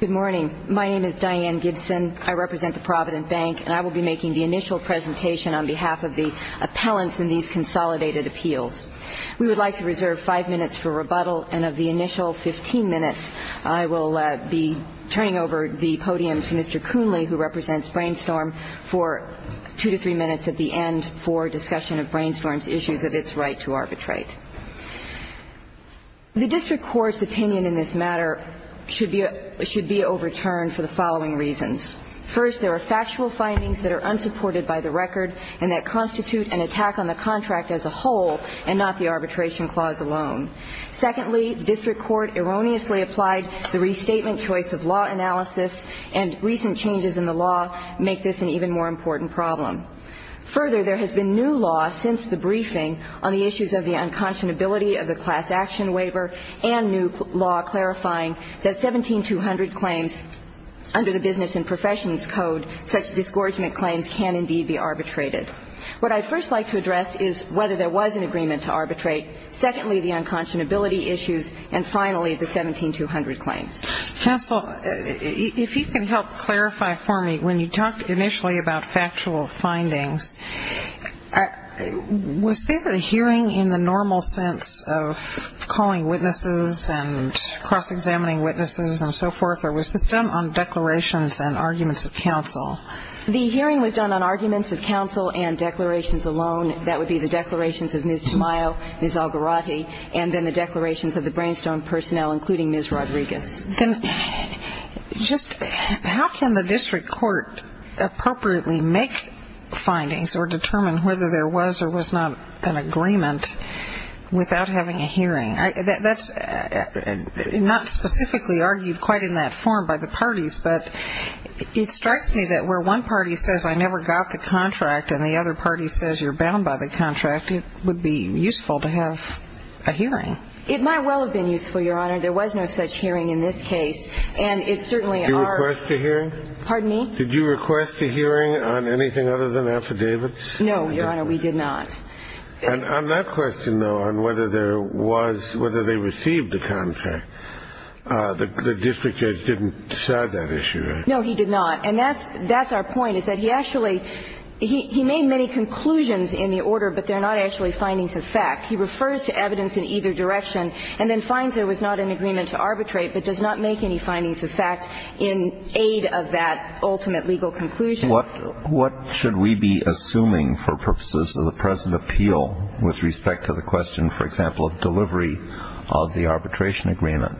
Good morning. My name is Diane Gibson. I represent the Provident Bank and I will be making the initial presentation on behalf of the appellants in these consolidated appeals. We would like to reserve five minutes for rebuttal and of the initial 15 minutes, I will be turning over the podium to Mr. Coonley, who represents Brainstorm, for two to three minutes at the end for discussion of Brainstorm's issues of its right to arbitrate. The District Court's opinion in this matter should be overturned for the following reasons. First, there are factual findings that are unsupported by the record and that constitute an attack on the contract as a whole and not the arbitration clause alone. Secondly, the District Court erroneously applied the restatement choice of law analysis and recent changes in the law make this an even more important problem. Further, there has been new law since the briefing on the issues of the unconscionability of the class action waiver and new law clarifying that 17200 claims under the Business and Professions Code, such disgorgement claims can indeed be arbitrated. What I would first like to address is whether there was an agreement to arbitrate. Secondly, the unconscionability issues. And finally, the 17200 claims. Counsel, if you can help clarify for me, when you talked initially about factual findings, was there a hearing in the normal sense of calling witnesses and cross-examining witnesses and so forth? Or was this done on declarations and arguments of counsel? The hearing was done on arguments of counsel and declarations alone. That would be the declarations of Ms. Tamayo, Ms. Algarotti, and then the declarations of the Brainstorm personnel, including Ms. Rodriguez. Then just how can the District Court appropriately make findings or determine whether there was or was not an agreement without having a hearing? That's not specifically argued quite in that form by the parties, but it strikes me that where one party says I never got the contract and the other party says you're bound by the contract, it would be useful to have a hearing. It might well have been useful, Your Honor. There was no such hearing in this case. And it certainly are Did you request a hearing? Pardon me? Did you request a hearing on anything other than affidavits? No, Your Honor, we did not. And on that question, though, on whether there was, whether they received the contract, the district judge didn't decide that issue, right? No, he did not. And that's our point, is that he actually, he made many conclusions in the order, but they're not actually findings of fact. He refers to evidence in either direction and then finds there was not an agreement to arbitrate, but does not make any findings of fact in aid of that ultimate legal conclusion. What should we be assuming for purposes of the present appeal with respect to the question, for example, of delivery of the arbitration agreement?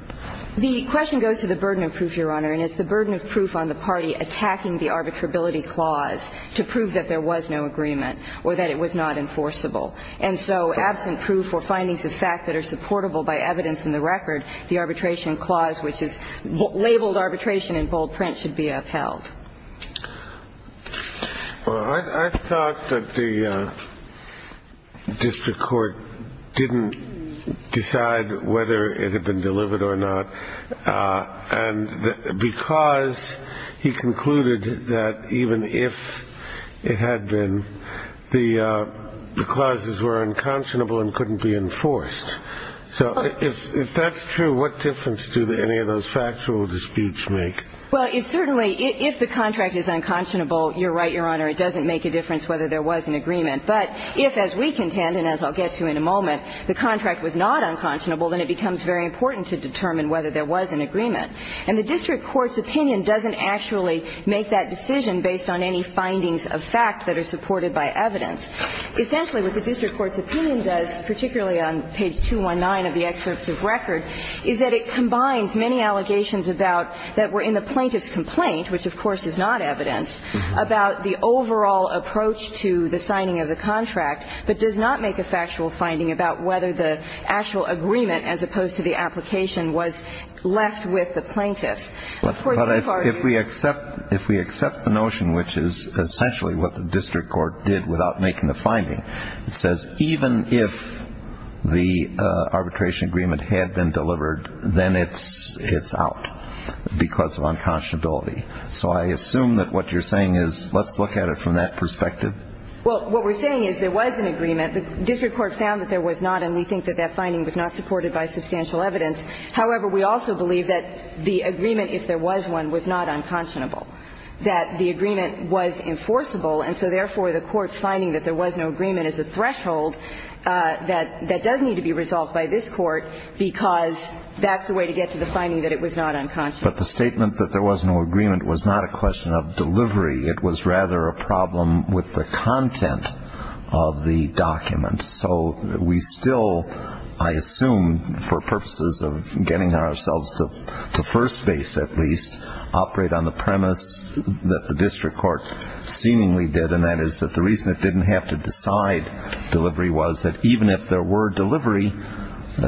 The question goes to the burden of proof, Your Honor, and it's the burden of proof on the party attacking the arbitrability clause to prove that there was no agreement or that it was not enforceable. And so absent proof or findings of fact that are supportable by evidence in the record, the arbitration clause, which is labeled arbitration in bold print, should be upheld. Well, I thought that the district court didn't decide whether it had been delivered or not, and because he concluded that even if it had been, the clauses were unconscionable and couldn't be enforced. So if that's true, what difference do any of those factual disputes make? Well, it certainly – if the contract is unconscionable, you're right, Your Honor, it doesn't make a difference whether there was an agreement. But if, as we contend, and as I'll get to in a moment, the contract was not unconscionable, then it becomes very important to determine whether there was an agreement. And the district court's opinion doesn't actually make that decision based on any findings of fact that are in the plaintiff's complaint, which of course is not evidence, about the overall approach to the signing of the contract, but does not make a factual finding about whether the actual agreement, as opposed to the application, was left with the plaintiffs. But if we accept the notion, which is essentially what the district court did without making the finding, it says even if the arbitration agreement had been unconstitutional, it would have been unconstitutional because of unconscionability. So I assume that what you're saying is let's look at it from that perspective? Well, what we're saying is there was an agreement. The district court found that there was not, and we think that that finding was not supported by substantial evidence. However, we also believe that the agreement, if there was one, was not unconscionable, that the agreement was enforceable. And so therefore, the court's finding was that it was not unconscionable. But the statement that there was no agreement was not a question of delivery. It was rather a problem with the content of the document. So we still, I assume, for purposes of getting ourselves to first base at least, operate on the premise that the district court seemingly did, and that is that the reason it didn't have to decide delivery was that even if there were delivery,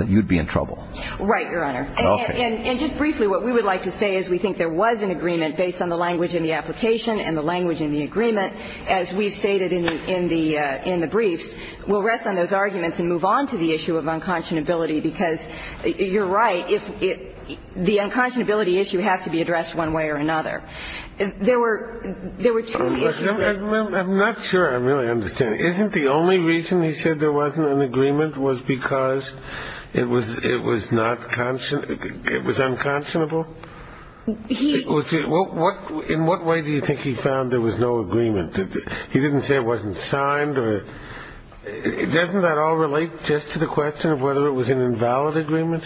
you'd be in trouble. Right, Your Honor. Okay. And just briefly, what we would like to say is we think there was an agreement based on the language in the application and the language in the agreement as we've stated in the briefs. We'll rest on those arguments and move on to the issue of unconscionability because you're right, the unconscionability issue has to be addressed one way or another. There were two views there. I'm not sure I really understand. Isn't the only reason he said there wasn't an agreement was because it was unconscionable? In what way do you think he found there was no agreement? He didn't say it wasn't signed. Doesn't that all relate just to the question of whether it was an invalid agreement?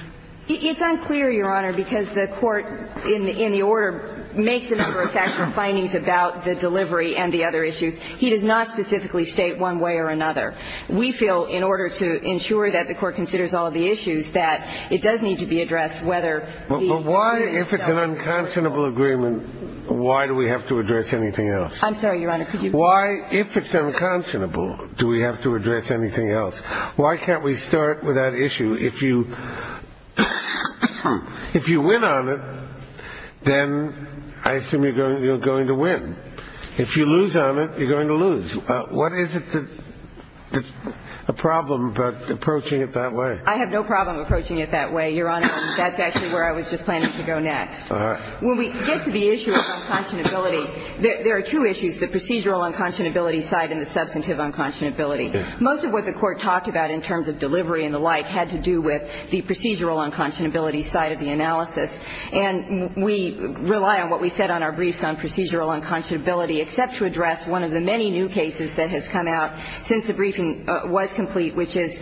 It's unclear, Your Honor, because the court in the order makes it for factual findings about the delivery and the other issues. He does not specifically state one way or another. We feel in order to ensure that the court considers all of the issues, that it does need to be addressed whether the agreement itself. But why, if it's an unconscionable agreement, why do we have to address anything else? I'm sorry, Your Honor. Why, if it's unconscionable, do we have to address anything else? Why can't we start with that issue? If you win on it, then I assume you're going to win. If you lose on it, you're going to lose. What is it that's a problem about approaching it that way? I have no problem approaching it that way, Your Honor. That's actually where I was just planning to go next. All right. When we get to the issue of unconscionability, there are two issues, the procedural unconscionability side and the substantive unconscionability. Most of what the court talked about in terms of delivery and the like had to do with the procedural unconscionability side of the analysis. And we rely on what we said on our briefs on procedural unconscionability, except to address one of the many new cases that has come out since the briefing was complete, which is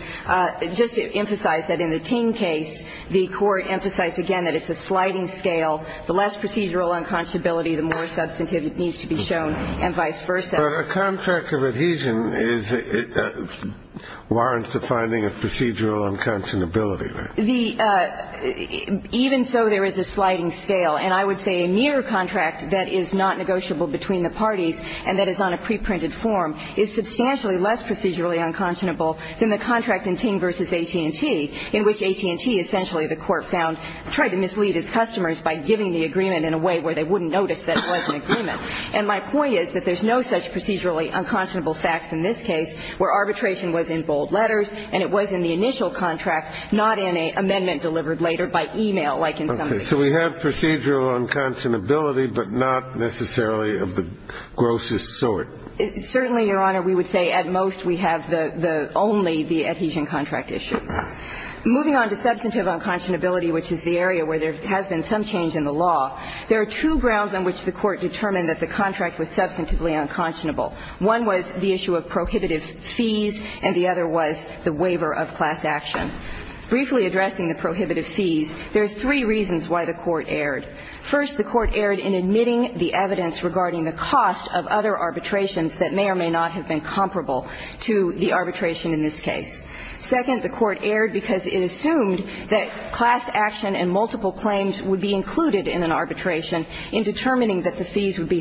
just to emphasize that in the Ting case, the court emphasized, again, that it's a sliding scale. The less procedural unconscionability, the more substantive it needs to be shown, and vice versa. But a contract of adhesion warrants the finding of procedural unconscionability, right? Even so, there is a sliding scale. And I would say a mere contract that is not negotiable between the parties and that is on a preprinted form is substantially less procedurally unconscionable than the contract in Ting v. AT&T, in which AT&T, essentially, the court found, tried to mislead its customers by giving the agreement in a way where they wouldn't notice that it was an agreement. And my point is that there's no such procedurally unconscionable facts in this case where arbitration was in bold letters and it was in the initial contract, not in an amendment delivered later by e-mail, like in some of the cases. Okay. So we have procedural unconscionability, but not necessarily of the grossest sort. Certainly, Your Honor, we would say at most we have the only the adhesion contract issue. All right. Moving on to substantive unconscionability, which is the area where there has been some change in the law, there are two grounds on which the court determined that the contract was substantively unconscionable. One was the issue of prohibitive fees and the other was the waiver of class action. Briefly addressing the prohibitive fees, there are three reasons why the court erred. First, the court erred in admitting the evidence regarding the cost of other arbitrations that may or may not have been comparable to the arbitration in this case. Second, the court erred because it assumed that class action and multiple fees would be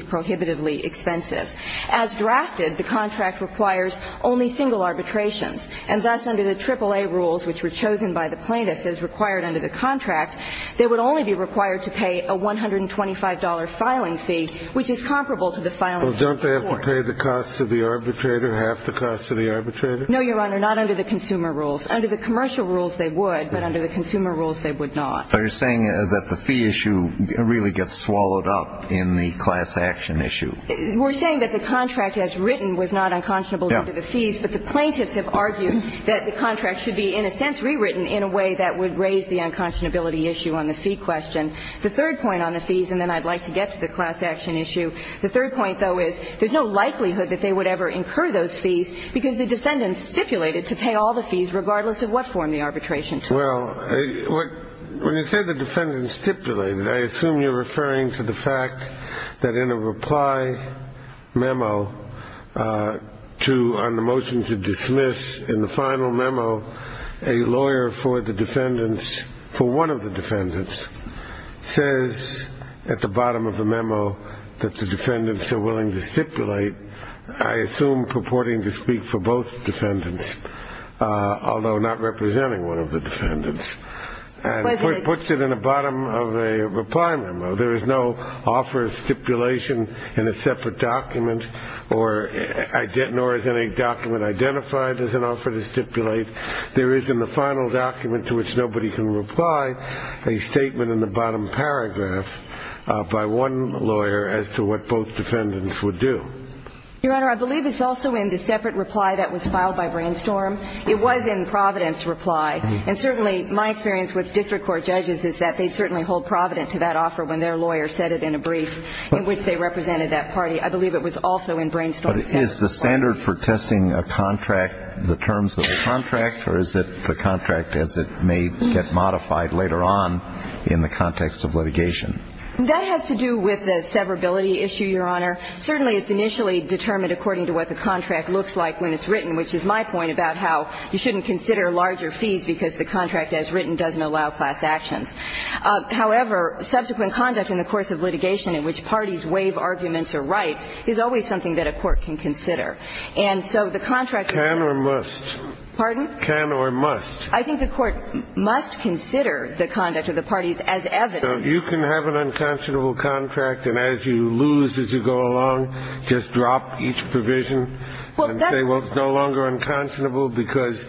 prohibitively expensive. As drafted, the contract requires only single arbitrations, and thus under the AAA rules, which were chosen by the plaintiffs as required under the contract, they would only be required to pay a $125 filing fee, which is comparable to the filing fee of the court. Well, don't they have to pay the costs of the arbitrator, half the costs of the arbitrator? No, Your Honor, not under the consumer rules. Under the commercial rules, they would, but under the consumer rules, they would not. But you're saying that the fee issue really gets swallowed up in the class action issue. We're saying that the contract as written was not unconscionable due to the fees, but the plaintiffs have argued that the contract should be, in a sense, rewritten in a way that would raise the unconscionability issue on the fee question. The third point on the fees, and then I'd like to get to the class action issue, the third point, though, is there's no likelihood that they would ever incur those fees because the defendant stipulated to pay all the fees regardless of what form the arbitration took. Well, when you say the defendant stipulated, I assume you're referring to the fact that in a reply memo to, on the motion to dismiss, in the final memo, a lawyer for the defendants, for one of the defendants, says at the bottom of the memo that the defendants are willing to stipulate, I assume purporting to speak for both defendants, although not representing one of the defendants, and puts it in the bottom of a reply memo. There is no offer of stipulation in a separate document nor is any document identified as an offer to stipulate. There is in the final document to which nobody can reply a statement in the bottom paragraph by one lawyer as to what both defendants would do. Your Honor, I believe it's also in the separate reply that was filed by Brainstorm. It was in Providence' reply. And certainly my experience with district court judges is that they'd certainly hold Providence to that offer when their lawyer said it in a brief in which they represented that party. I believe it was also in Brainstorm's separate reply. But is the standard for testing a contract the terms of the contract or is it the contract as it may get modified later on in the context of litigation? That has to do with the severability issue, Your Honor. Certainly it's initially determined according to what the contract looks like when it's written, which is my point about how you shouldn't consider larger fees because the contract as written doesn't allow class actions. However, subsequent conduct in the course of litigation in which parties waive arguments or rights is always something that a court can consider. And so the contract can or must. Pardon? Can or must. I think the court must consider the conduct of the parties as evidence. You can have an unconscionable contract and as you lose, as you go along, just drop each provision and say, well, it's no longer unconscionable because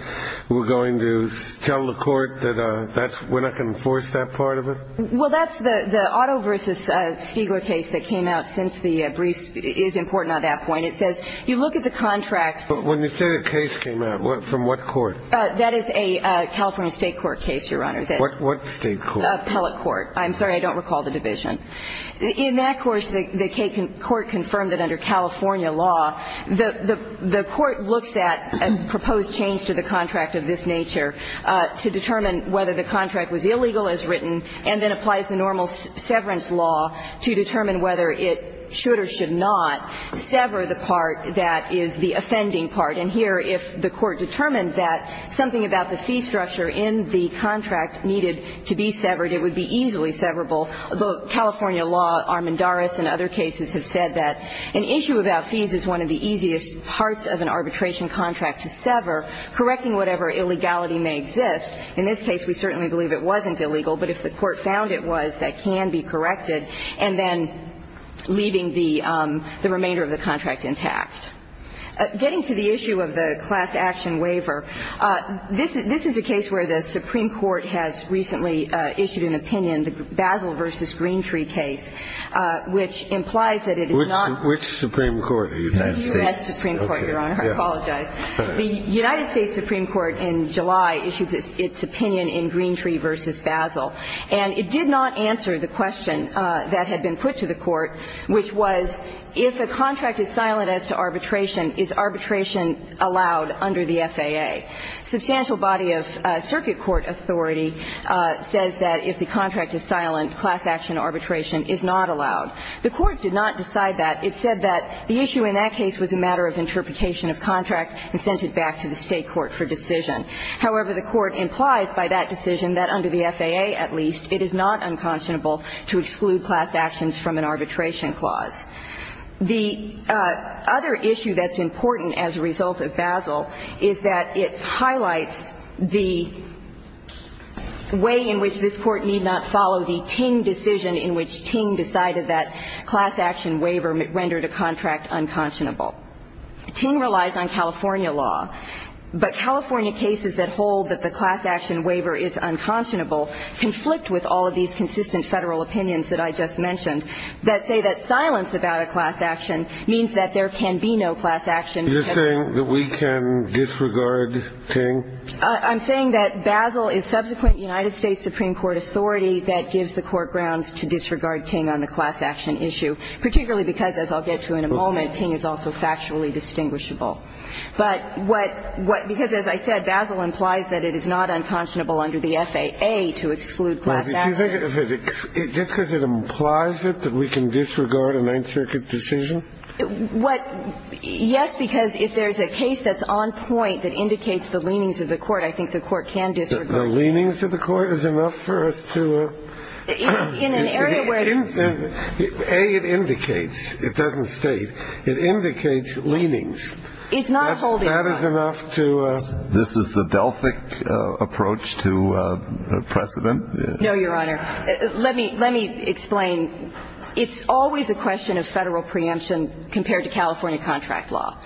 we're going to tell the court that we're not going to enforce that part of it? Well, that's the Otto v. Stigler case that came out since the brief is important on that point. It says you look at the contract. But when you say the case came out, from what court? That is a California state court case, Your Honor. What state court? Appellate court. I'm sorry. I don't recall the division. In that course, the court confirmed that under California law, the court looks at a proposed change to the contract of this nature to determine whether the contract was illegal as written and then applies the normal severance law to determine whether it should or should not sever the part that is the offending part. And here, if the court determined that something about the fee structure in the contract needed to be severed, it would be easily severable. California law, Armendaris and other cases have said that an issue about fees is one of the easiest parts of an arbitration contract to sever, correcting whatever illegality may exist. In this case, we certainly believe it wasn't illegal, but if the court found it was, that can be corrected, and then leaving the remainder of the contract intact. Getting to the issue of the class action waiver, this is a case where the Supreme Court has recently issued an opinion, the Basel v. Greentree case, which implies that it is not. Which Supreme Court? The United States. The U.S. Supreme Court, Your Honor. I apologize. The United States Supreme Court in July issued its opinion in Greentree v. Basel, and it did not answer the question that had been put to the court, which was if a contract is silent as to arbitration, is arbitration allowed under the FAA? Substantial body of circuit court authority says that if the contract is silent, class action arbitration is not allowed. The court did not decide that. It said that the issue in that case was a matter of interpretation of contract and sent it back to the State court for decision. However, the court implies by that decision that under the FAA, at least, it is not unconscionable to exclude class actions from an arbitration clause. The other issue that's important as a result of Basel is that it highlights the way in which this Court need not follow the Ting decision in which Ting decided that class action waiver rendered a contract unconscionable. Ting relies on California law, but California cases that hold that the class action waiver is unconscionable conflict with all of these consistent Federal opinions that I just mentioned that say that silence about a class action means that there can be no class action. You're saying that we can disregard Ting? I'm saying that Basel is subsequent United States Supreme Court authority that gives the court grounds to disregard Ting on the class action issue, particularly because, as I'll get to in a moment, Ting is also factually distinguishable. But what – because as I said, Basel implies that it is not unconscionable under the FAA to exclude class action. Just because it implies it that we can disregard a Ninth Circuit decision? What – yes, because if there's a case that's on point that indicates the leanings of the court, I think the court can disregard it. The leanings of the court is enough for us to – In an area where it's – A, it indicates. It doesn't state. It indicates leanings. It's not holding – That is enough to – This is the Delphic approach to precedent? No, Your Honor. Let me – let me explain. It's always a question of Federal preemption compared to California contract law.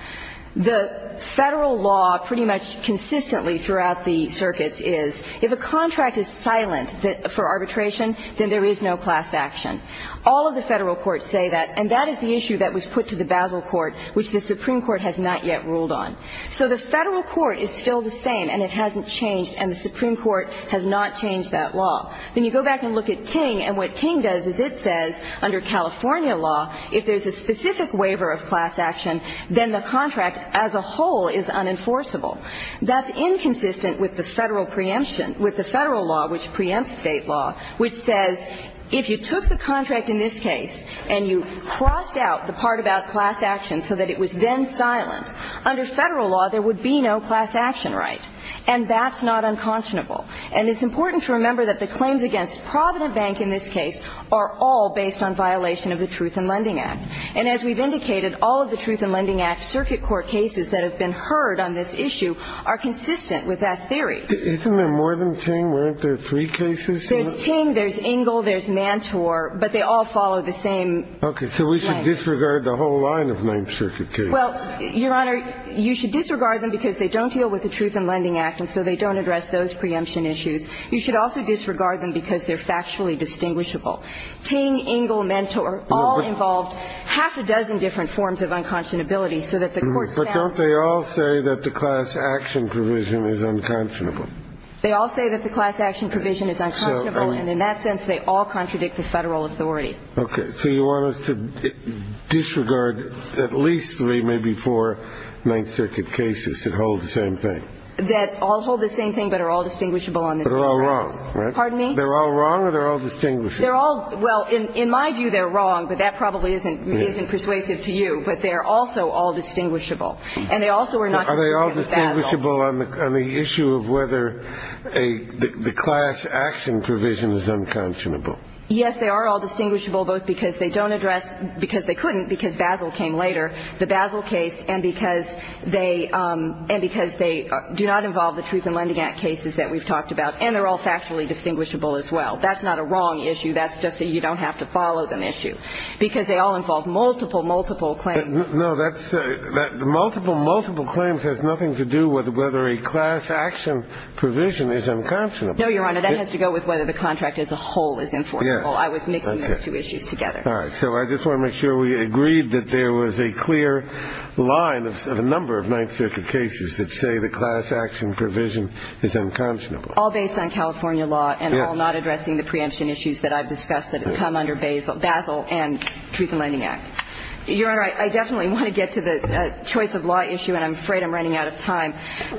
The Federal law pretty much consistently throughout the circuits is if a contract is silent for arbitration, then there is no class action. All of the Federal courts say that, and that is the issue that was put to the Basel court, which the Supreme Court has not yet ruled on. So the Federal court is still the same, and it hasn't changed, and the Supreme Court has not yet ruled on it. But if you look at California law, then you go back and look at Ting, and what Ting does is it says under California law, if there's a specific waiver of class action, then the contract as a whole is unenforceable. That's inconsistent with the Federal preemption – with the Federal law, which preempts State law, which says if you took the contract in this case and you crossed out the part about class action so that it was then silent, under Federal law, there would be no class action right. And that's not unconscionable. And it's important to remember that the claims against Provident Bank in this case are all based on violation of the Truth in Lending Act. And as we've indicated, all of the Truth in Lending Act circuit court cases that have been heard on this issue are consistent with that theory. Isn't there more than Ting? Weren't there three cases? There's Ting, there's Ingle, there's Mantor, but they all follow the same length. So we should disregard the whole line of Ninth Circuit cases. Well, Your Honor, you should disregard them because they don't deal with the Truth in Lending Act, and so they don't address those preemption issues. You should also disregard them because they're factually distinguishable. Ting, Ingle, Mantor all involved half a dozen different forms of unconscionability so that the courts found – But don't they all say that the class action provision is unconscionable? They all say that the class action provision is unconscionable, and in that sense they all contradict the Federal authority. Okay. So you want us to disregard at least three, maybe four, Ninth Circuit cases that hold the same thing? That all hold the same thing but are all distinguishable on this basis. But are all wrong, right? Pardon me? They're all wrong or they're all distinguishable? They're all – well, in my view, they're wrong, but that probably isn't persuasive to you. But they're also all distinguishable. And they also are not – Are they all distinguishable on the issue of whether the class action provision is unconscionable? Yes, they are all distinguishable, both because they don't address – because they couldn't, because Basel came later, the Basel case, and because they – and because they do not involve the Truth in Lending Act cases that we've talked about. And they're all factually distinguishable as well. That's not a wrong issue. That's just a you don't have to follow them issue. Because they all involve multiple, multiple claims. No, that's – the multiple, multiple claims has nothing to do with whether a class action provision is unconscionable. No, Your Honor. That has to go with whether the contract as a whole is informable. I was mixing those two issues together. All right. So I just want to make sure we agreed that there was a clear line of a number of Ninth Circuit cases that say the class action provision is unconscionable. All based on California law and all not addressing the preemption issues that I've discussed that have come under Basel and Truth in Lending Act. Your Honor, I definitely want to get to the choice of law issue, and I'm afraid I'm running out of time.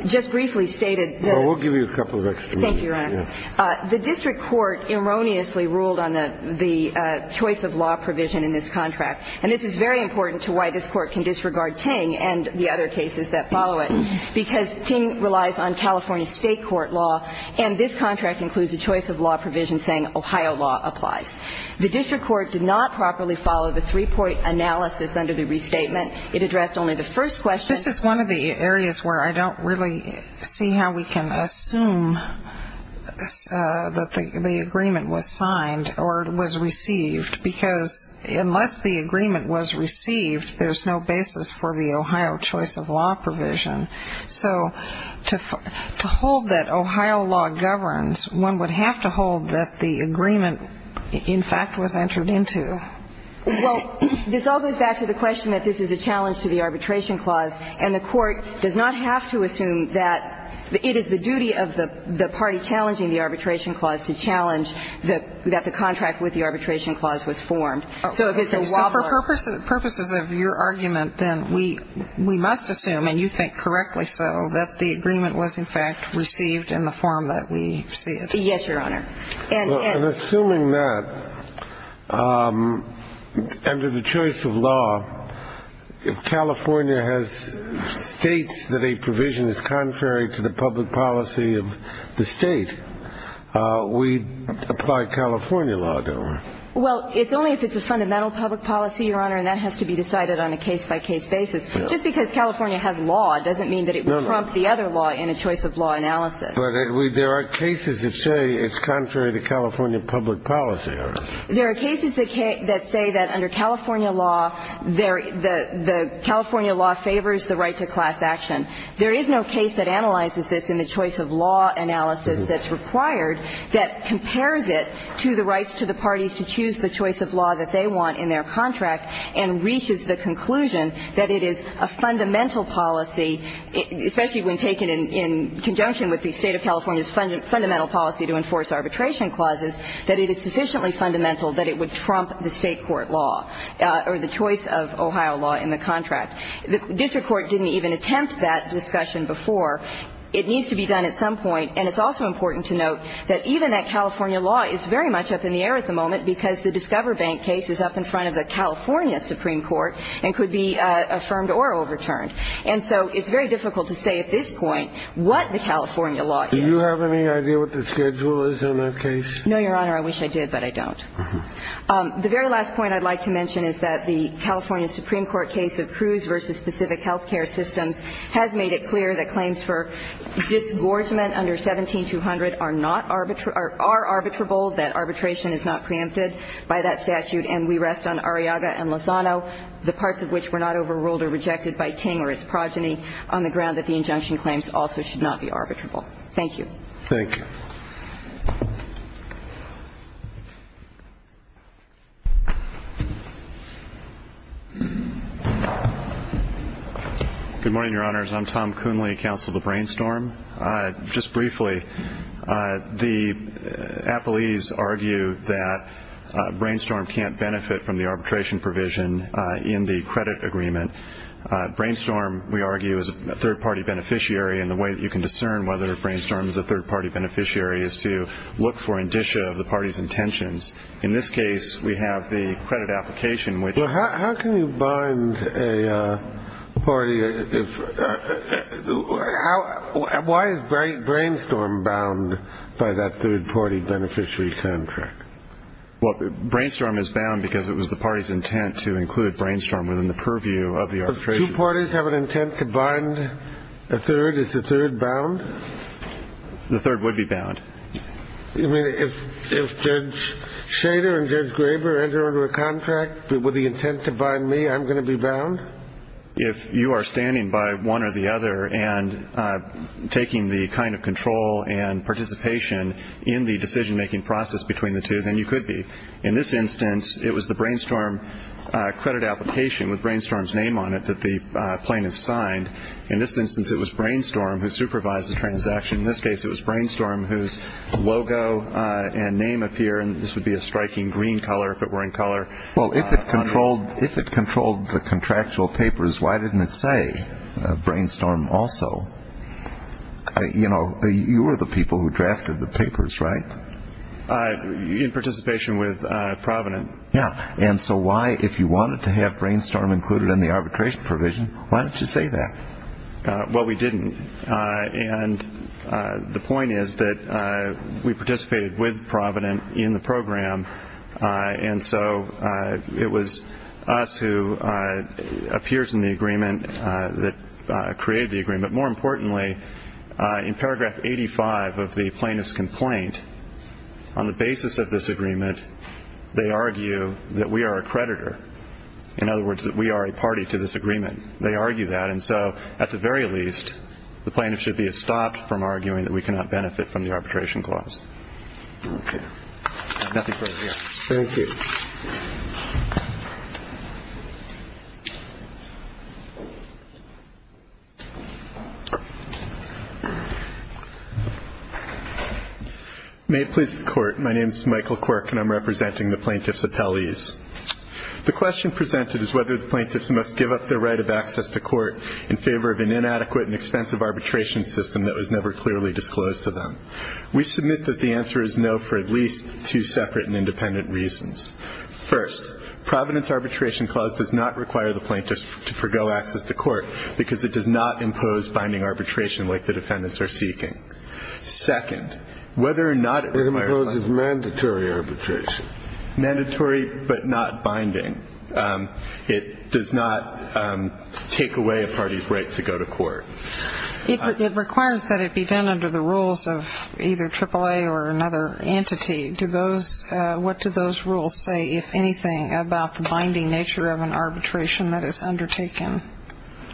Just briefly stated that – Well, we'll give you a couple of extra minutes. Thank you, Your Honor. The district court erroneously ruled on the choice of law provision in this contract. And this is very important to why this court can disregard Ting and the other cases that follow it. Because Ting relies on California state court law, and this contract includes a choice of law provision saying Ohio law applies. The district court did not properly follow the three-point analysis under the restatement. It addressed only the first question. This is one of the areas where I don't really see how we can assume that the agreement was signed or was received, because unless the agreement was received, there's no basis for the Ohio choice of law provision. So to hold that Ohio law governs, one would have to hold that the agreement, in fact, was entered into. Well, this all goes back to the question that this is a challenge to the arbitration clause. And the court does not have to assume that it is the duty of the party challenging the arbitration clause to challenge that the contract with the arbitration clause was formed. So if it's a wobbler. So for purposes of your argument, then, we must assume, and you think correctly so, that the agreement was, in fact, received in the form that we see it. Yes, Your Honor. Well, in assuming that, under the choice of law, if California has states that a provision is contrary to the public policy of the state, we apply California law, don't we? Well, it's only if it's a fundamental public policy, Your Honor, and that has to be decided on a case-by-case basis. Just because California has law doesn't mean that it would prompt the other law in a choice of law analysis. But there are cases that say it's contrary to California public policy, Your Honor. There are cases that say that under California law, the California law favors the right to class action. There is no case that analyzes this in the choice of law analysis that's required that compares it to the rights to the parties to choose the choice of law that they want in their contract and reaches the conclusion that it is a fundamental policy, especially when taken in conjunction with the State of California's fundamental policy to enforce arbitration clauses, that it is sufficiently fundamental that it would trump the State court law or the choice of Ohio law in the contract. The district court didn't even attempt that discussion before. It needs to be done at some point. And it's also important to note that even that California law is very much up in the air at the moment because the Discover Bank case is up in front of the California Supreme Court and could be affirmed or overturned. And so it's very difficult to say at this point what the California law is. Do you have any idea what the schedule is on that case? No, Your Honor. I wish I did, but I don't. The very last point I'd like to mention is that the California Supreme Court case of Cruz v. Pacific Healthcare Systems has made it clear that claims for disgorgement under 17-200 are not arbitrable, are arbitrable, that arbitration is not preempted by that statute. And we rest on Arriaga and Lozano, the parts of which were not overruled or rejected by Ting or his progeny, on the ground that the injunction claims also should not be arbitrable. Thank you. Thank you. Good morning, Your Honors. I'm Tom Coonley, counsel of the Brainstorm. Just briefly, the appellees argue that Brainstorm can't benefit from the arbitration provision in the credit agreement. Brainstorm, we argue, is a third-party beneficiary. And the way that you can discern whether Brainstorm is a third-party beneficiary is to look for indicia of the party's intentions. In this case, we have the credit application, which ---- Why is Brainstorm bound by that third-party beneficiary contract? Well, Brainstorm is bound because it was the party's intent to include Brainstorm within the purview of the arbitration. If two parties have an intent to bind a third, is the third bound? The third would be bound. You mean if Judge Shader and Judge Graber enter into a contract with the intent to bind me, I'm going to be bound? If you are standing by one or the other and taking the kind of control and participation in the decision-making process between the two, then you could be. In this instance, it was the Brainstorm credit application with Brainstorm's name on it that the plaintiff signed. In this instance, it was Brainstorm who supervised the transaction. In this case, it was Brainstorm whose logo and name appear, and this would be a striking green color if it were in color. Well, if it controlled the contractual papers, why didn't it say Brainstorm also? You know, you were the people who drafted the papers, right? In participation with Provident. Yeah. And so why, if you wanted to have Brainstorm included in the arbitration provision, why didn't you say that? Well, we didn't. And the point is that we participated with Provident in the program, and so it was us who appears in the agreement that created the agreement. More importantly, in paragraph 85 of the plaintiff's complaint, on the basis of this agreement, they argue that we are a creditor. In other words, that we are a party to this agreement. They argue that, and so at the very least, the plaintiff should be stopped from arguing that we cannot benefit from the arbitration clause. Okay. I have nothing further to add. Thank you. May it please the Court. My name is Michael Quirk, and I'm representing the plaintiff's appellees. The question presented is whether the plaintiffs must give up their right of access to court in favor of an inadequate and expensive arbitration system that was never clearly disclosed to them. We submit that the answer is no for at least two separate and independent reasons. First, Provident's arbitration clause does not require the plaintiffs to forego access to court because it does not impose binding arbitration like the defendants are seeking. Second, whether or not it requires the plaintiffs to give up their right to court It imposes mandatory arbitration. Mandatory but not binding. It does not take away a party's right to go to court. It requires that it be done under the rules of either AAA or another entity. What do those rules say, if anything, about the binding nature of an arbitration that is undertaken?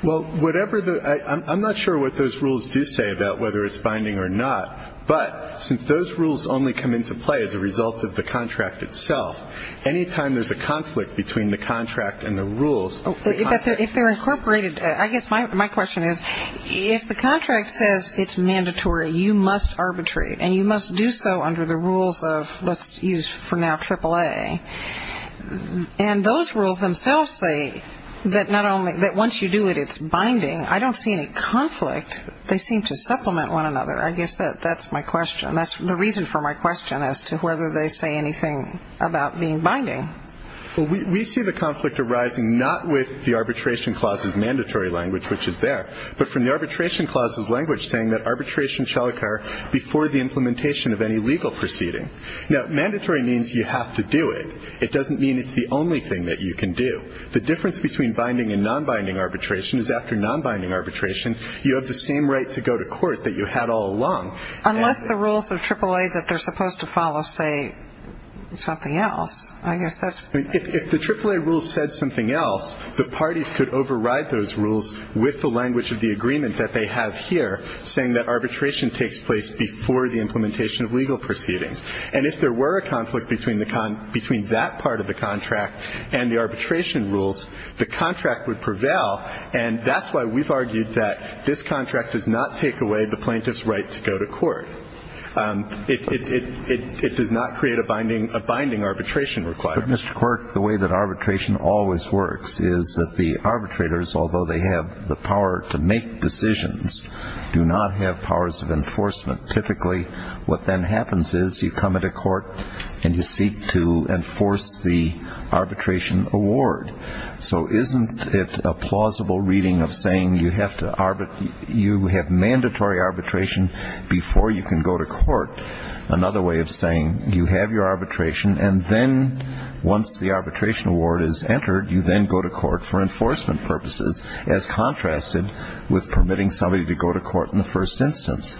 Well, I'm not sure what those rules do say about whether it's binding or not, but since those rules only come into play as a result of the contract itself, any time there's a conflict between the contract and the rules of the contract If they're incorporated, I guess my question is, if the contract says it's mandatory, you must arbitrate, and you must do so under the rules of, let's use for now AAA, and those rules themselves say that once you do it, it's binding, I don't see any conflict. They seem to supplement one another. I guess that's my question. That's the reason for my question as to whether they say anything about being binding. Well, we see the conflict arising not with the arbitration clause's mandatory language, which is there, but from the arbitration clause's language saying that arbitration shall occur before the implementation of any legal proceeding. Now, mandatory means you have to do it. It doesn't mean it's the only thing that you can do. The difference between binding and non-binding arbitration is after non-binding arbitration, you have the same right to go to court that you had all along. Unless the rules of AAA that they're supposed to follow say something else. If the AAA rules said something else, the parties could override those rules with the language of the agreement that they have here saying that arbitration takes place before the implementation of legal proceedings. And if there were a conflict between that part of the contract and the arbitration rules, the contract would prevail, and that's why we've argued that this contract does not take away the plaintiff's right to go to court. It does not create a binding arbitration requirement. But, Mr. Quirk, the way that arbitration always works is that the arbitrators, although they have the power to make decisions, do not have powers of enforcement. Typically what then happens is you come into court and you seek to enforce the arbitration award. So isn't it a plausible reading of saying you have to arbitrate, you have mandatory arbitration before you can go to court, another way of saying you have your arbitration, and then once the arbitration award is entered, you then go to court for enforcement purposes, as contrasted with permitting somebody to go to court in the first instance.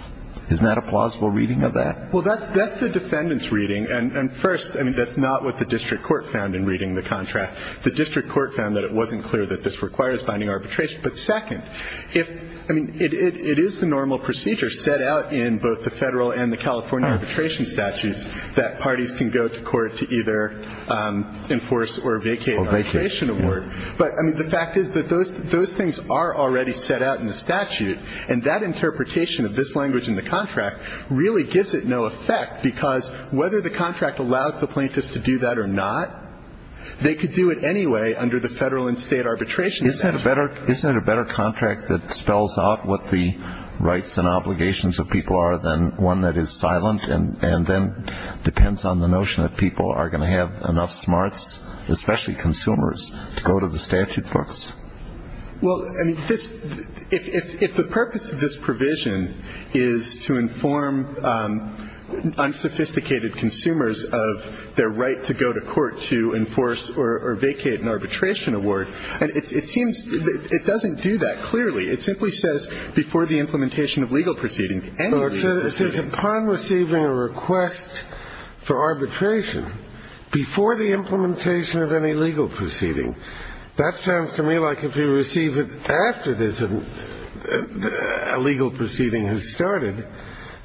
Isn't that a plausible reading of that? Well, that's the defendant's reading. And, first, that's not what the district court found in reading the contract. The district court found that it wasn't clear that this requires binding arbitration. But, second, if, I mean, it is the normal procedure set out in both the Federal and the California arbitration statutes that parties can go to court to either enforce or vacate an arbitration award. But, I mean, the fact is that those things are already set out in the statute. And that interpretation of this language in the contract really gives it no effect, because whether the contract allows the plaintiffs to do that or not, they could do it anyway under the Federal and State arbitration statute. Isn't it a better contract that spells out what the rights and obligations of people are than one that is silent and then depends on the notion that people are going to have enough smarts, especially consumers, to go to the statute books? Well, I mean, if the purpose of this provision is to inform unsophisticated consumers of their right to go to court to enforce or vacate an arbitration award, it seems it doesn't do that clearly. It simply says before the implementation of legal proceeding, any legal proceeding. Well, it says upon receiving a request for arbitration, before the implementation of any legal proceeding. That sounds to me like if you receive it after a legal proceeding has started,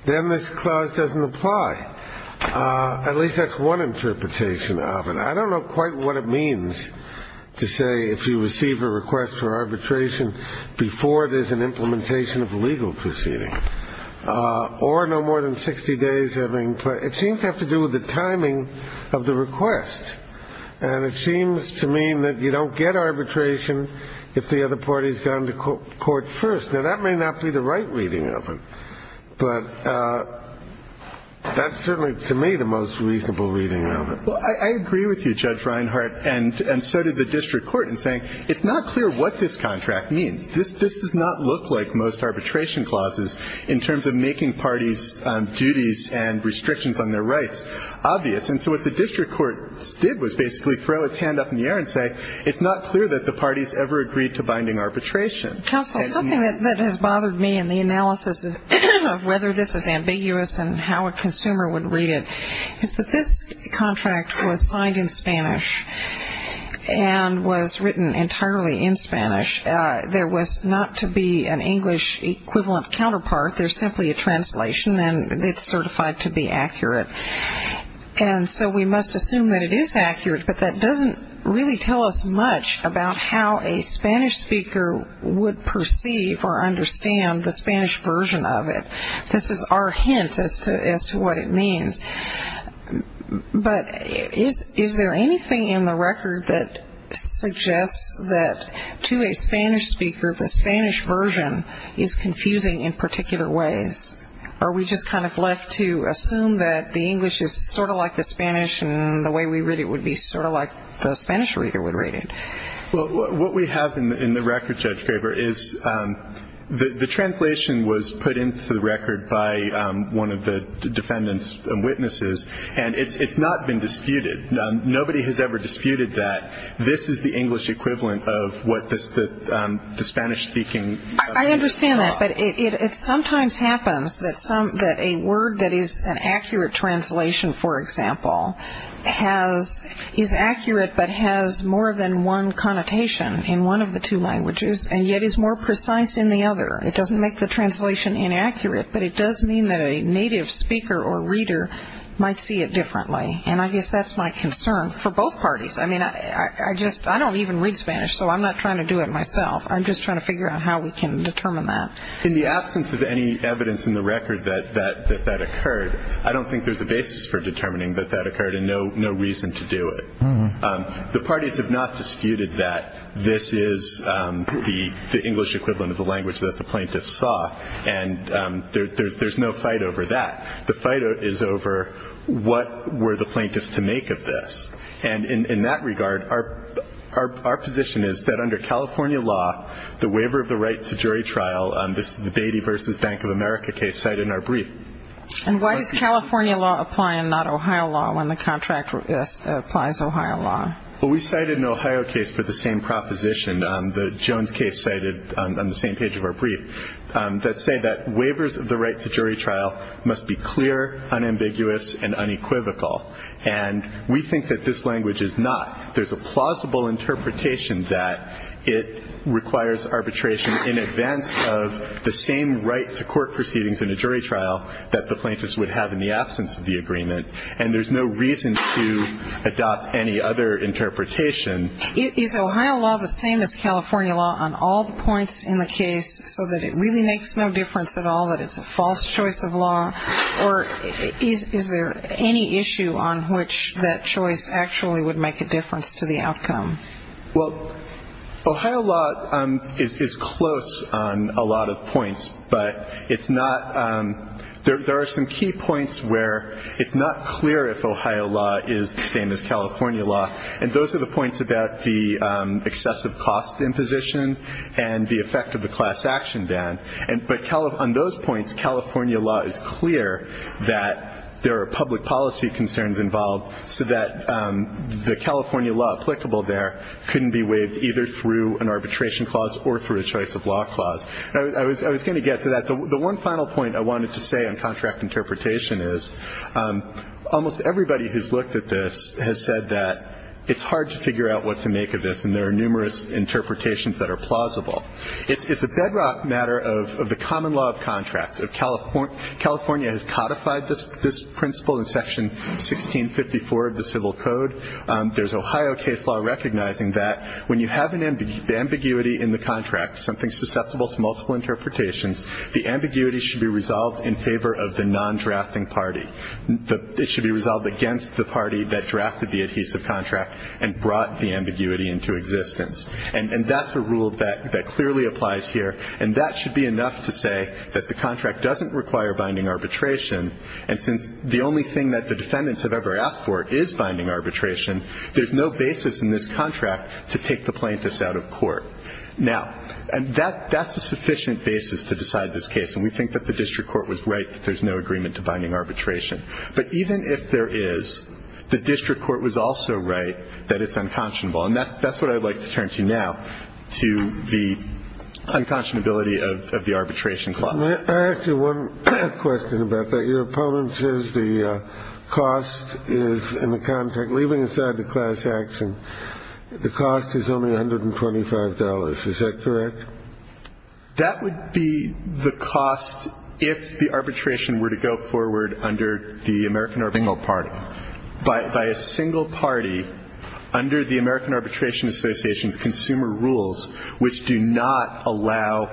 then this clause doesn't apply. At least that's one interpretation of it. I don't know quite what it means to say if you receive a request for arbitration before there's an implementation of a legal proceeding, or no more than 60 days having played. It seems to have to do with the timing of the request, and it seems to mean that you don't get arbitration if the other party has gone to court first. Now, that may not be the right reading of it, but that's certainly to me the most reasonable reading of it. Well, I agree with you, Judge Reinhart, and so did the district court in saying it's not clear what this contract means. This does not look like most arbitration clauses in terms of making parties' duties and restrictions on their rights obvious. And so what the district court did was basically throw its hand up in the air and say it's not clear that the parties ever agreed to binding arbitration. Counsel, something that has bothered me in the analysis of whether this is ambiguous and how a consumer would read it is that this contract was signed in Spanish and was written entirely in Spanish. There was not to be an English equivalent counterpart. There's simply a translation, and it's certified to be accurate. And so we must assume that it is accurate, but that doesn't really tell us much about how a Spanish speaker would perceive or understand the Spanish version of it. This is our hint as to what it means. But is there anything in the record that suggests that to a Spanish speaker, the Spanish version is confusing in particular ways? Are we just kind of left to assume that the English is sort of like the Spanish and the way we read it would be sort of like the Spanish reader would read it? Well, what we have in the record, Judge Graber, is the translation was put into the record by one of the defendants and witnesses, and it's not been disputed. Nobody has ever disputed that this is the English equivalent of what the Spanish-speaking I understand that, but it sometimes happens that a word that is an accurate translation, for example, is accurate but has more than one connotation in one of the two languages and yet is more precise in the other. It doesn't make the translation inaccurate, but it does mean that a native speaker or reader might see it differently. And I guess that's my concern for both parties. I mean, I don't even read Spanish, so I'm not trying to do it myself. I'm just trying to figure out how we can determine that. In the absence of any evidence in the record that that occurred, I don't think there's a basis for determining that that occurred and no reason to do it. The parties have not disputed that this is the English equivalent of the language that the plaintiffs saw, and there's no fight over that. The fight is over what were the plaintiffs to make of this. And in that regard, our position is that under California law, the waiver of the right to jury trial, this is the Beatty v. Bank of America case cited in our brief. And why does California law apply and not Ohio law when the contract applies Ohio law? Well, we cited an Ohio case for the same proposition, the Jones case cited on the same page of our brief, that say that waivers of the right to jury trial must be clear, unambiguous, and unequivocal. And we think that this language is not. There's a plausible interpretation that it requires arbitration in advance of the same right to court proceedings in a jury trial that the plaintiffs would have in the absence of the agreement. And there's no reason to adopt any other interpretation. Is Ohio law the same as California law on all the points in the case, so that it really makes no difference at all that it's a false choice of law? Or is there any issue on which that choice actually would make a difference to the outcome? Well, Ohio law is close on a lot of points. But it's not ñ there are some key points where it's not clear if Ohio law is the same as California law. And those are the points about the excessive cost imposition and the effect of the class action ban. But on those points, California law is clear that there are public policy concerns involved, so that the California law applicable there couldn't be waived either through an arbitration clause or through a choice of law clause. I was going to get to that. The one final point I wanted to say on contract interpretation is, almost everybody who's looked at this has said that it's hard to figure out what to make of this, and there are numerous interpretations that are plausible. It's a bedrock matter of the common law of contracts. California has codified this principle in Section 1654 of the Civil Code. There's Ohio case law recognizing that when you have an ambiguity in the contract, something susceptible to multiple interpretations, the ambiguity should be resolved in favor of the non-drafting party. It should be resolved against the party that drafted the adhesive contract and brought the ambiguity into existence. And that's a rule that clearly applies here. And that should be enough to say that the contract doesn't require binding arbitration, and since the only thing that the defendants have ever asked for is binding arbitration, there's no basis in this contract to take the plaintiffs out of court. Now, and that's a sufficient basis to decide this case, and we think that the district court was right that there's no agreement to binding arbitration. But even if there is, the district court was also right that it's unconscionable. And that's what I'd like to turn to now, to the unconscionability of the arbitration clause. Let me ask you one question about that. Your opponent says the cost is in the contract. Leaving aside the class action, the cost is only $125. Is that correct? That would be the cost if the arbitration were to go forward under the American arbitral party. By a single party under the American Arbitration Association's consumer rules, which do not allow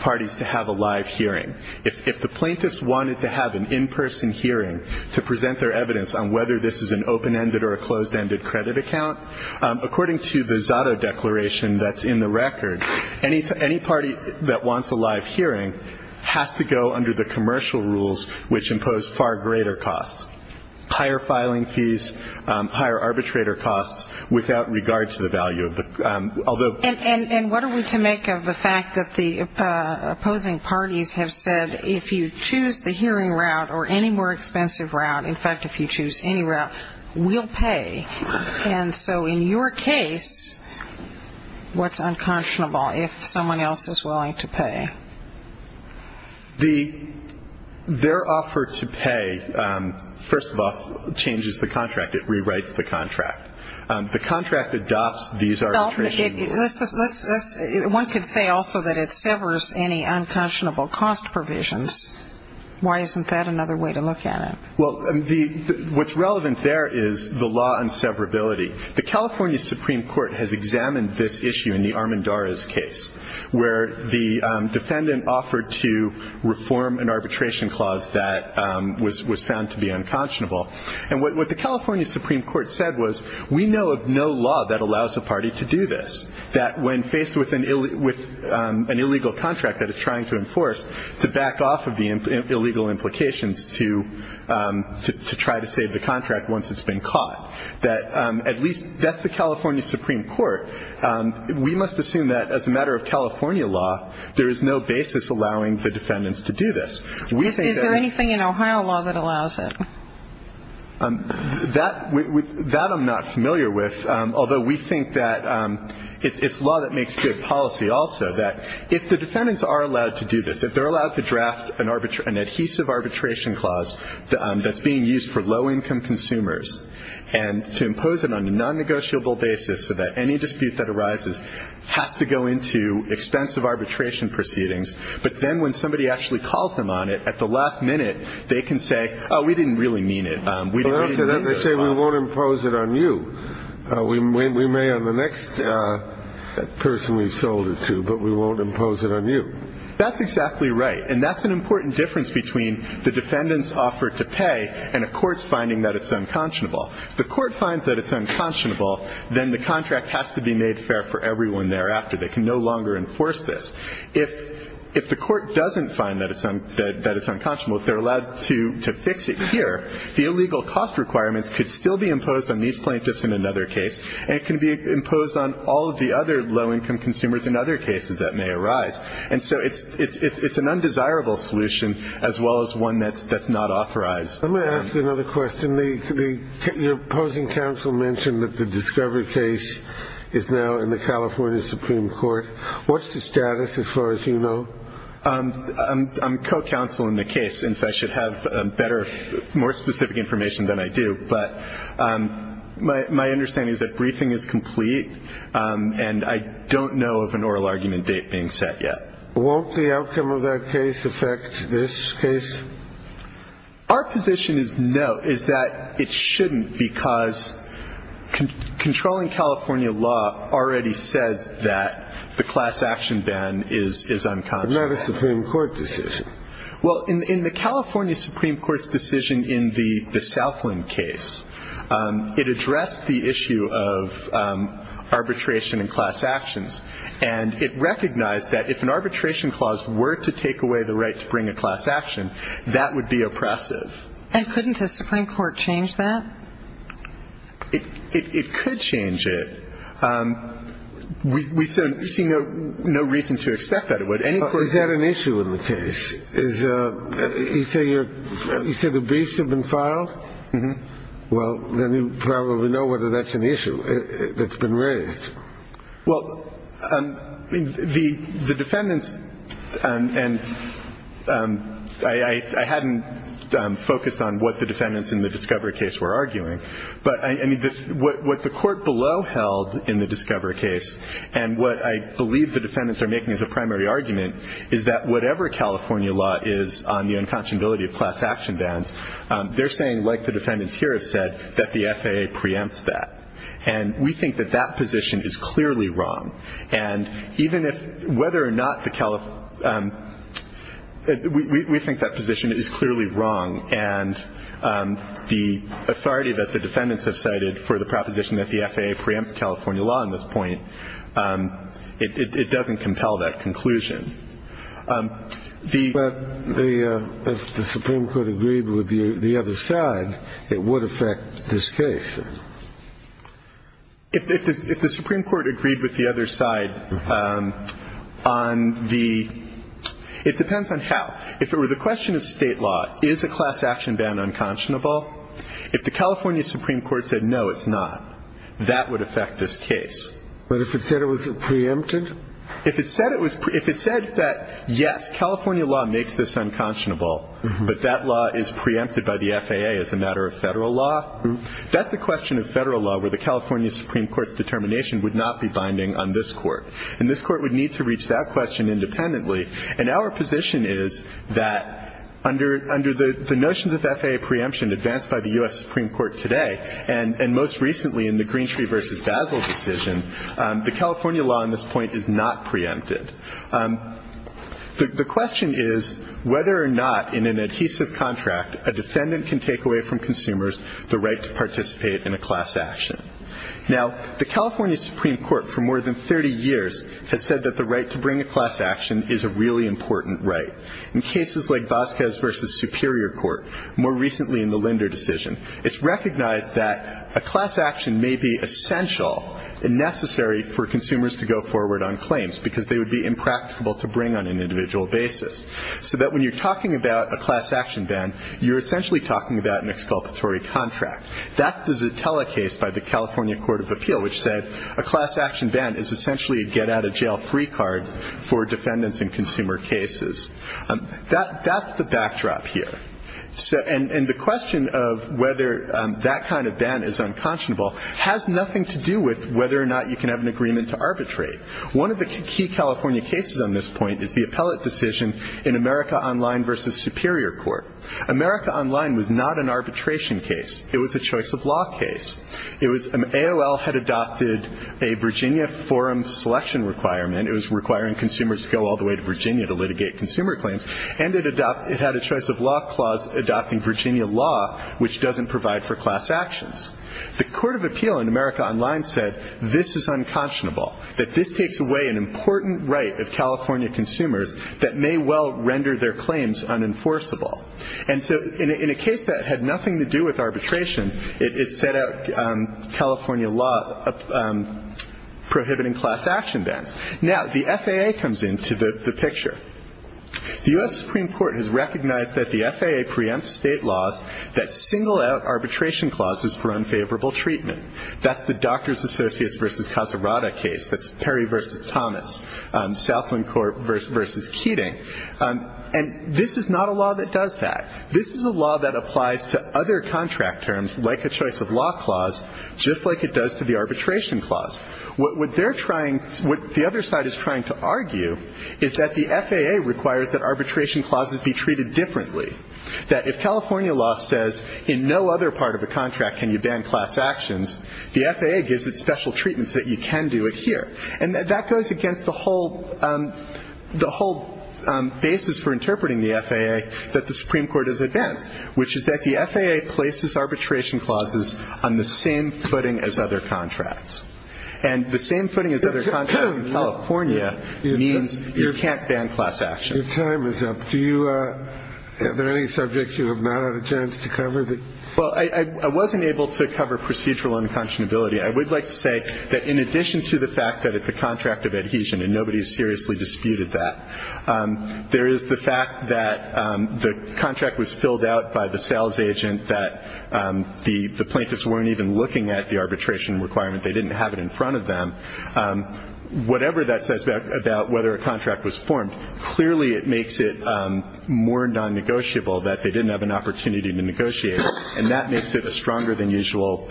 parties to have a live hearing. If the plaintiffs wanted to have an in-person hearing to present their evidence on whether this is an open-ended or a closed-ended credit account, according to the Zotto Declaration that's in the record, any party that wants a live hearing has to go under the commercial rules, which impose far greater costs, higher filing fees, higher arbitrator costs without regard to the value. And what are we to make of the fact that the opposing parties have said, if you choose the hearing route or any more expensive route, in fact, if you choose any route, we'll pay. And so in your case, what's unconscionable if someone else is willing to pay? Their offer to pay, first of all, changes the contract. It rewrites the contract. The contract adopts these arbitration rules. One could say also that it severs any unconscionable cost provisions. Why isn't that another way to look at it? Well, what's relevant there is the law on severability. The California Supreme Court has examined this issue in the Armendariz case, where the defendant offered to reform an arbitration clause that was found to be unconscionable. And what the California Supreme Court said was, we know of no law that allows a party to do this, that when faced with an illegal contract that it's trying to enforce, to back off of the illegal implications to try to save the contract once it's been caught, that at least that's the California Supreme Court. We must assume that as a matter of California law, there is no basis allowing the defendants to do this. Is there anything in Ohio law that allows it? That I'm not familiar with, although we think that it's law that makes good policy also, that if the defendants are allowed to do this, if they're allowed to draft an adhesive arbitration clause that's being used for low-income consumers and to impose it on a non-negotiable basis so that any dispute that arises has to go into expensive arbitration proceedings, but then when somebody actually calls them on it at the last minute, they can say, oh, we didn't really mean it. They say, we won't impose it on you. We may on the next person we've sold it to, but we won't impose it on you. That's exactly right. And that's an important difference between the defendants' offer to pay and a court's finding that it's unconscionable. If the court finds that it's unconscionable, then the contract has to be made fair for everyone thereafter. They can no longer enforce this. If the court doesn't find that it's unconscionable, if they're allowed to fix it here, the illegal cost requirements could still be imposed on these plaintiffs in another case, and it can be imposed on all of the other low-income consumers in other cases that may arise. And so it's an undesirable solution as well as one that's not authorized. Let me ask you another question. Your opposing counsel mentioned that the discovery case is now in the California Supreme Court. What's the status as far as you know? I'm co-counsel in the case, and so I should have better, more specific information than I do, but my understanding is that briefing is complete, and I don't know of an oral argument date being set yet. Won't the outcome of that case affect this case? Our position is no, is that it shouldn't, because controlling California law already says that the class action ban is unconscionable. But not a Supreme Court decision. Well, in the California Supreme Court's decision in the Southland case, it addressed the issue of arbitration and class actions, and it recognized that if an arbitration clause were to take away the right to bring a class action, that would be oppressive. And couldn't the Supreme Court change that? It could change it. We see no reason to expect that it would. Is that an issue in the case? You say the briefs have been filed? Mm-hmm. Well, then you probably know whether that's an issue that's been raised. Well, the defendants, and I hadn't focused on what the defendants in the discovery case were arguing, but what the court below held in the discovery case and what I believe the defendants are making as a primary argument, is that whatever California law is on the unconscionability of class action bans, they're saying, like the defendants here have said, that the FAA preempts that. And we think that that position is clearly wrong. And even if whether or not the California law, we think that position is clearly wrong, and the authority that the defendants have cited for the proposition that the FAA preempts California law on this point, it doesn't compel that conclusion. But if the Supreme Court agreed with the other side, it would affect this case. If the Supreme Court agreed with the other side on the ‑‑ it depends on how. If it were the question of state law, is a class action ban unconscionable? If the California Supreme Court said, no, it's not, that would affect this case. But if it said it was preempted? If it said that, yes, California law makes this unconscionable, but that law is preempted by the FAA as a matter of Federal law, that's a question of Federal law where the California Supreme Court's determination would not be binding on this Court. And this Court would need to reach that question independently. And our position is that under the notions of FAA preemption advanced by the U.S. Supreme Court today, and most recently in the Greentree v. Basil decision, the California law on this point is not preempted. The question is whether or not in an adhesive contract, a defendant can take away from consumers the right to participate in a class action. Now, the California Supreme Court for more than 30 years has said that the right to bring a class action is a really important right. In cases like Vasquez v. Superior Court, more recently in the Linder decision, it's recognized that a class action may be essential and necessary for consumers to go forward on claims because they would be impractical to bring on an individual basis. So that when you're talking about a class action ban, you're essentially talking about an exculpatory contract. That's the Zitella case by the California Court of Appeal, which said a class action ban is essentially a get-out-of-jail-free card for defendants in consumer cases. That's the backdrop here. And the question of whether that kind of ban is unconscionable has nothing to do with whether or not you can have an agreement to arbitrate. One of the key California cases on this point is the appellate decision in America Online v. Superior Court. America Online was not an arbitration case. It was a choice-of-law case. AOL had adopted a Virginia forum selection requirement. It was requiring consumers to go all the way to Virginia to litigate consumer claims. And it had a choice-of-law clause adopting Virginia law, which doesn't provide for class actions. The Court of Appeal in America Online said this is unconscionable, that this takes away an important right of California consumers that may well render their claims unenforceable. And so in a case that had nothing to do with arbitration, it set out California law prohibiting class action bans. Now, the FAA comes into the picture. The U.S. Supreme Court has recognized that the FAA preempts state laws that single out arbitration clauses for unfavorable treatment. That's the Doctors Associates v. Casarata case. That's Perry v. Thomas, Southland Court v. Keating. And this is not a law that does that. This is a law that applies to other contract terms, like a choice-of-law clause, just like it does to the arbitration clause. What the other side is trying to argue is that the FAA requires that arbitration clauses be treated differently, that if California law says in no other part of a contract can you ban class actions, the FAA gives it special treatments that you can do it here. And that goes against the whole basis for interpreting the FAA that the Supreme Court is against, which is that the FAA places arbitration clauses on the same footing as other contracts. And the same footing as other contracts in California means you can't ban class actions. Your time is up. Do you have any subjects you have not had a chance to cover? Well, I wasn't able to cover procedural unconscionability. I would like to say that in addition to the fact that it's a contract of adhesion, and nobody has seriously disputed that, there is the fact that the contract was filled out by the sales agent, that the plaintiffs weren't even looking at the arbitration requirement. They didn't have it in front of them. Whatever that says about whether a contract was formed, clearly it makes it more nonnegotiable that they didn't have an opportunity to negotiate it. And that makes it a stronger than usual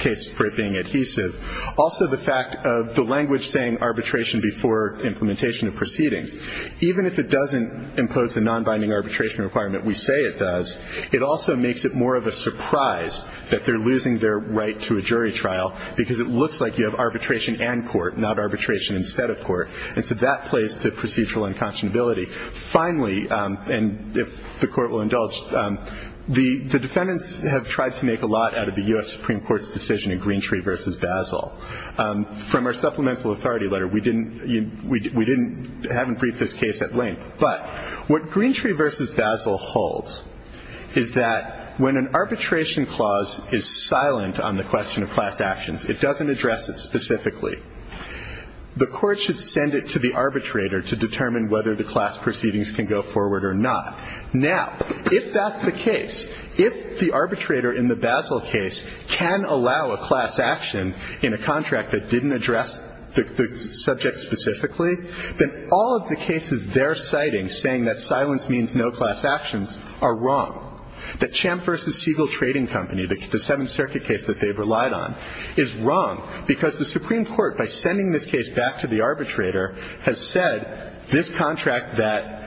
case for it being adhesive. Also the fact of the language saying arbitration before implementation of proceedings. Even if it doesn't impose the nonbinding arbitration requirement we say it does, it also makes it more of a surprise that they're losing their right to a jury trial because it looks like you have arbitration and court, not arbitration instead of court. And so that plays to procedural unconscionability. Finally, and if the court will indulge, the defendants have tried to make a lot out of the U.S. Supreme Court's decision in Greentree v. Basel. From our supplemental authority letter, we haven't briefed this case at length. But what Greentree v. Basel holds is that when an arbitration clause is silent on the question of class actions, it doesn't address it specifically. The court should send it to the arbitrator to determine whether the class proceedings can go forward or not. Now, if that's the case, if the arbitrator in the Basel case can allow a class action in a contract that didn't address the subject specifically, then all of the cases they're citing saying that silence means no class actions are wrong, that Champ v. Siegel Trading Company, the Seventh Circuit case that they've relied on, is wrong, because the Supreme Court, by sending this case back to the arbitrator, has said this contract that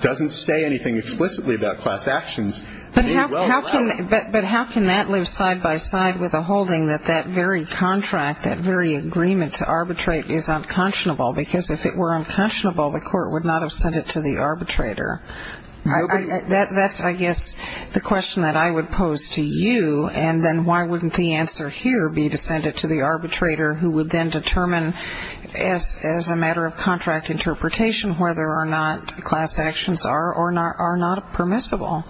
doesn't say anything explicitly about class actions may well allow it. But how can that live side by side with a holding that that very contract, that very agreement to arbitrate is unconscionable? Because if it were unconscionable, the court would not have sent it to the arbitrator. That's, I guess, the question that I would pose to you. And then why wouldn't the answer here be to send it to the arbitrator who would then determine, as a matter of contract interpretation, whether or not class actions are or are not permissible?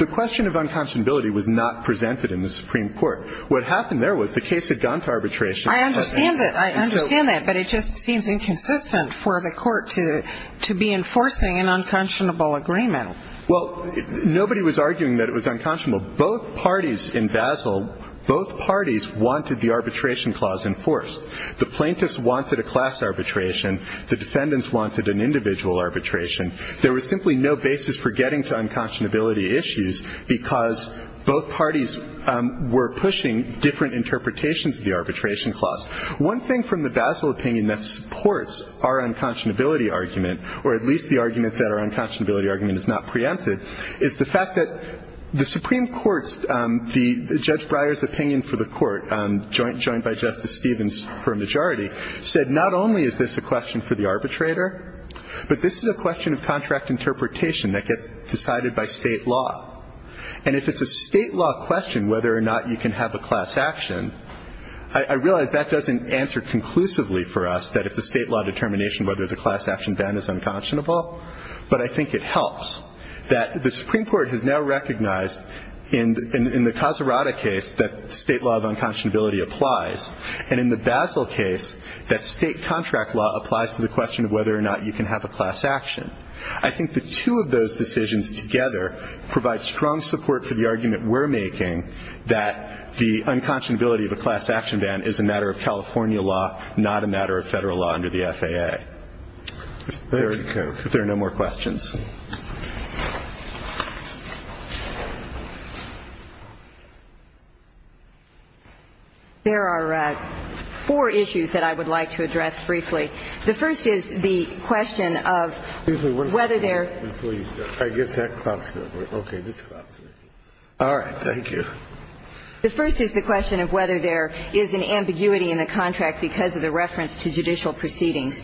The question of unconscionability was not presented in the Supreme Court. What happened there was the case had gone to arbitration. I understand that. I understand that. But it just seems inconsistent for the Court to be enforcing an unconscionable agreement. Well, nobody was arguing that it was unconscionable. Both parties in Basel, both parties wanted the arbitration clause enforced. The plaintiffs wanted a class arbitration. The defendants wanted an individual arbitration. There was simply no basis for getting to unconscionability issues because both parties were pushing different interpretations of the arbitration clause. One thing from the Basel opinion that supports our unconscionability argument, or at least the argument that our unconscionability argument is not preempted, is the fact that the Supreme Court's, Judge Breyer's opinion for the Court, joined by Justice Stevens for a majority, said not only is this a question for the arbitrator, but this is a question of contract interpretation that gets decided by State law. And if it's a State law question whether or not you can have a class action, I realize that doesn't answer conclusively for us that it's a State law determination whether the class action ban is unconscionable. But I think it helps that the Supreme Court has now recognized in the Casarada case that State law of unconscionability applies, and in the Basel case that State contract law applies to the question of whether or not you can have a class action. I think the two of those decisions together provide strong support for the argument we're making that the unconscionability of a class action ban is a matter of California law, not a matter of Federal law under the FAA. If there are no more questions. There are four issues that I would like to address briefly. The first is the question of whether there is an ambiguity in the contract because of the reference to judicial proceedings.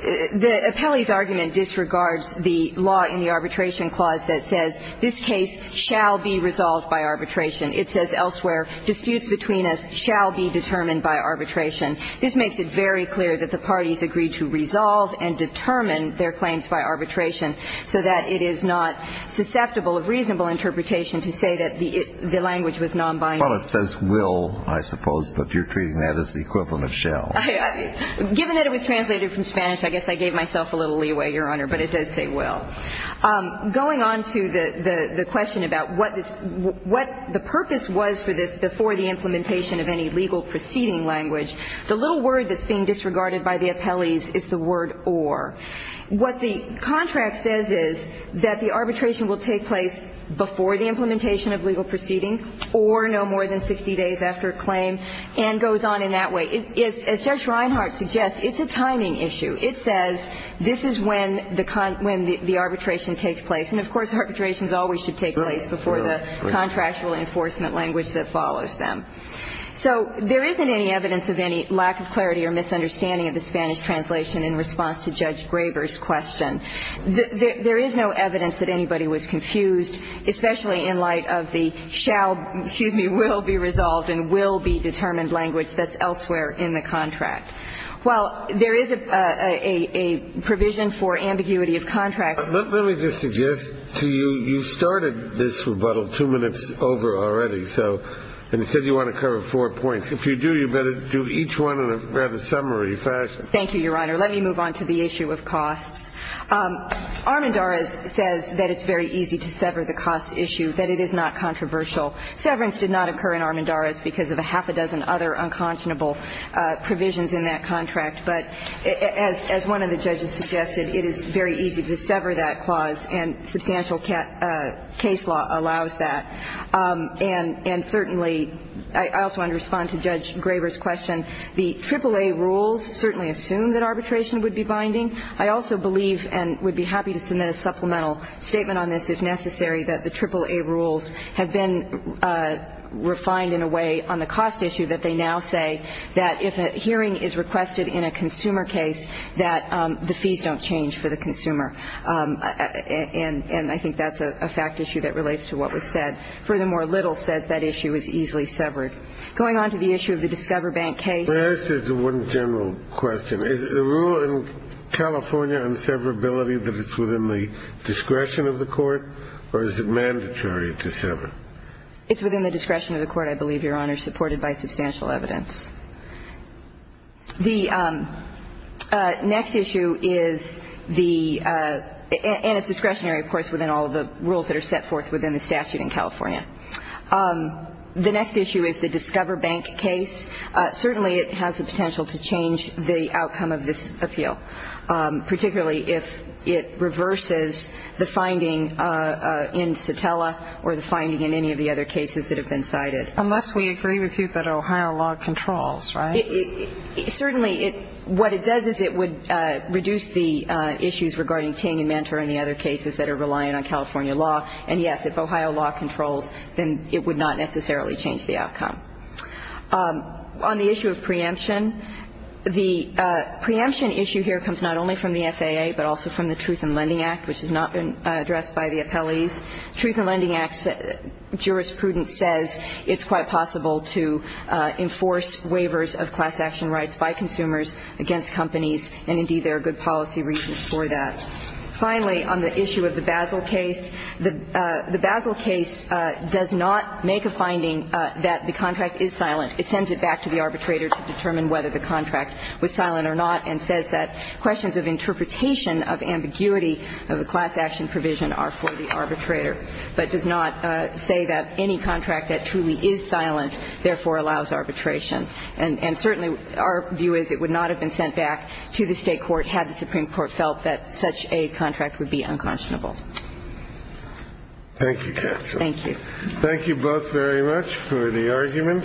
The appellee's argument disregards the law in the arbitration clause that says, this case shall be resolved by arbitration. It says elsewhere, disputes between us shall be determined by arbitration. This makes it very clear that the parties agreed to resolve and determine their claims by arbitration so that it is not susceptible of reasonable interpretation to say that the language was non-binary. Well, it says will, I suppose, but you're treating that as the equivalent of shall. Given that it was translated from Spanish, I guess I gave myself a little leeway, Your Honor, but it does say will. Going on to the question about what the purpose was for this before the implementation of any legal proceeding language. The little word that's being disregarded by the appellees is the word or. What the contract says is that the arbitration will take place before the implementation of legal proceeding or no more than 60 days after a claim and goes on in that way. As Judge Reinhart suggests, it's a timing issue. It says this is when the arbitration takes place. And of course, arbitrations always should take place before the contractual enforcement language that follows them. So there isn't any evidence of any lack of clarity or misunderstanding of the Spanish translation in response to Judge Graber's question. There is no evidence that anybody was confused, especially in light of the shall excuse me, will be resolved and will be determined language that's elsewhere in the contract. While there is a provision for ambiguity of contracts. Let me just suggest to you, you started this rebuttal two minutes over already. So instead you want to cover four points. If you do, you better do each one in a rather summary fashion. Thank you, Your Honor. Let me move on to the issue of costs. Armendariz says that it's very easy to sever the cost issue, that it is not controversial. Severance did not occur in Armendariz because of a half a dozen other unconscionable provisions in that contract. But as one of the judges suggested, it is very easy to sever that clause and substantial case law allows that. And certainly I also want to respond to Judge Graber's question. The AAA rules certainly assume that arbitration would be binding. I also believe and would be happy to submit a supplemental statement on this if necessary that the AAA rules have been refined in a way on the cost issue that they now say that if a hearing is requested in a consumer case, that the fees don't change for the consumer. And I think that's a fact issue that relates to what was said. Furthermore, Little says that issue is easily severed. Going on to the issue of the Discover Bank case. Let me ask you one general question. Is the rule in California on severability that it's within the discretion of the court, or is it mandatory to sever? It's within the discretion of the court, I believe, Your Honor, supported by substantial evidence. The next issue is the, and it's discretionary, of course, within all of the rules that are set forth within the statute in California. The next issue is the Discover Bank case. Certainly it has the potential to change the outcome of this appeal, particularly if it reverses the finding in Sotella or the finding in any of the other cases that have been cited. Unless we agree with you that Ohio law controls, right? Certainly. What it does is it would reduce the issues regarding Ting and Mantor and the other cases that are reliant on California law. And, yes, if Ohio law controls, then it would not necessarily change the outcome. On the issue of preemption, the preemption issue here comes not only from the FAA, but also from the Truth in Lending Act, which has not been addressed by the appellees. Truth in Lending Act jurisprudence says it's quite possible to enforce waivers of class action rights by consumers against companies, and, indeed, there are good policy reasons for that. Finally, on the issue of the Basel case, the Basel case does not make a finding that the contract is silent. It sends it back to the arbitrator to determine whether the contract was silent or not, and says that questions of interpretation of ambiguity of a class action provision are for the arbitrator, but does not say that any contract that truly is silent therefore allows arbitration. And, certainly, our view is it would not have been sent back to the state court had the Supreme Court felt that such a contract would be unconscionable. Thank you, Counsel. Thank you. Thank you both very much for the argument.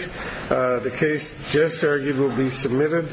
The case just argued will be submitted.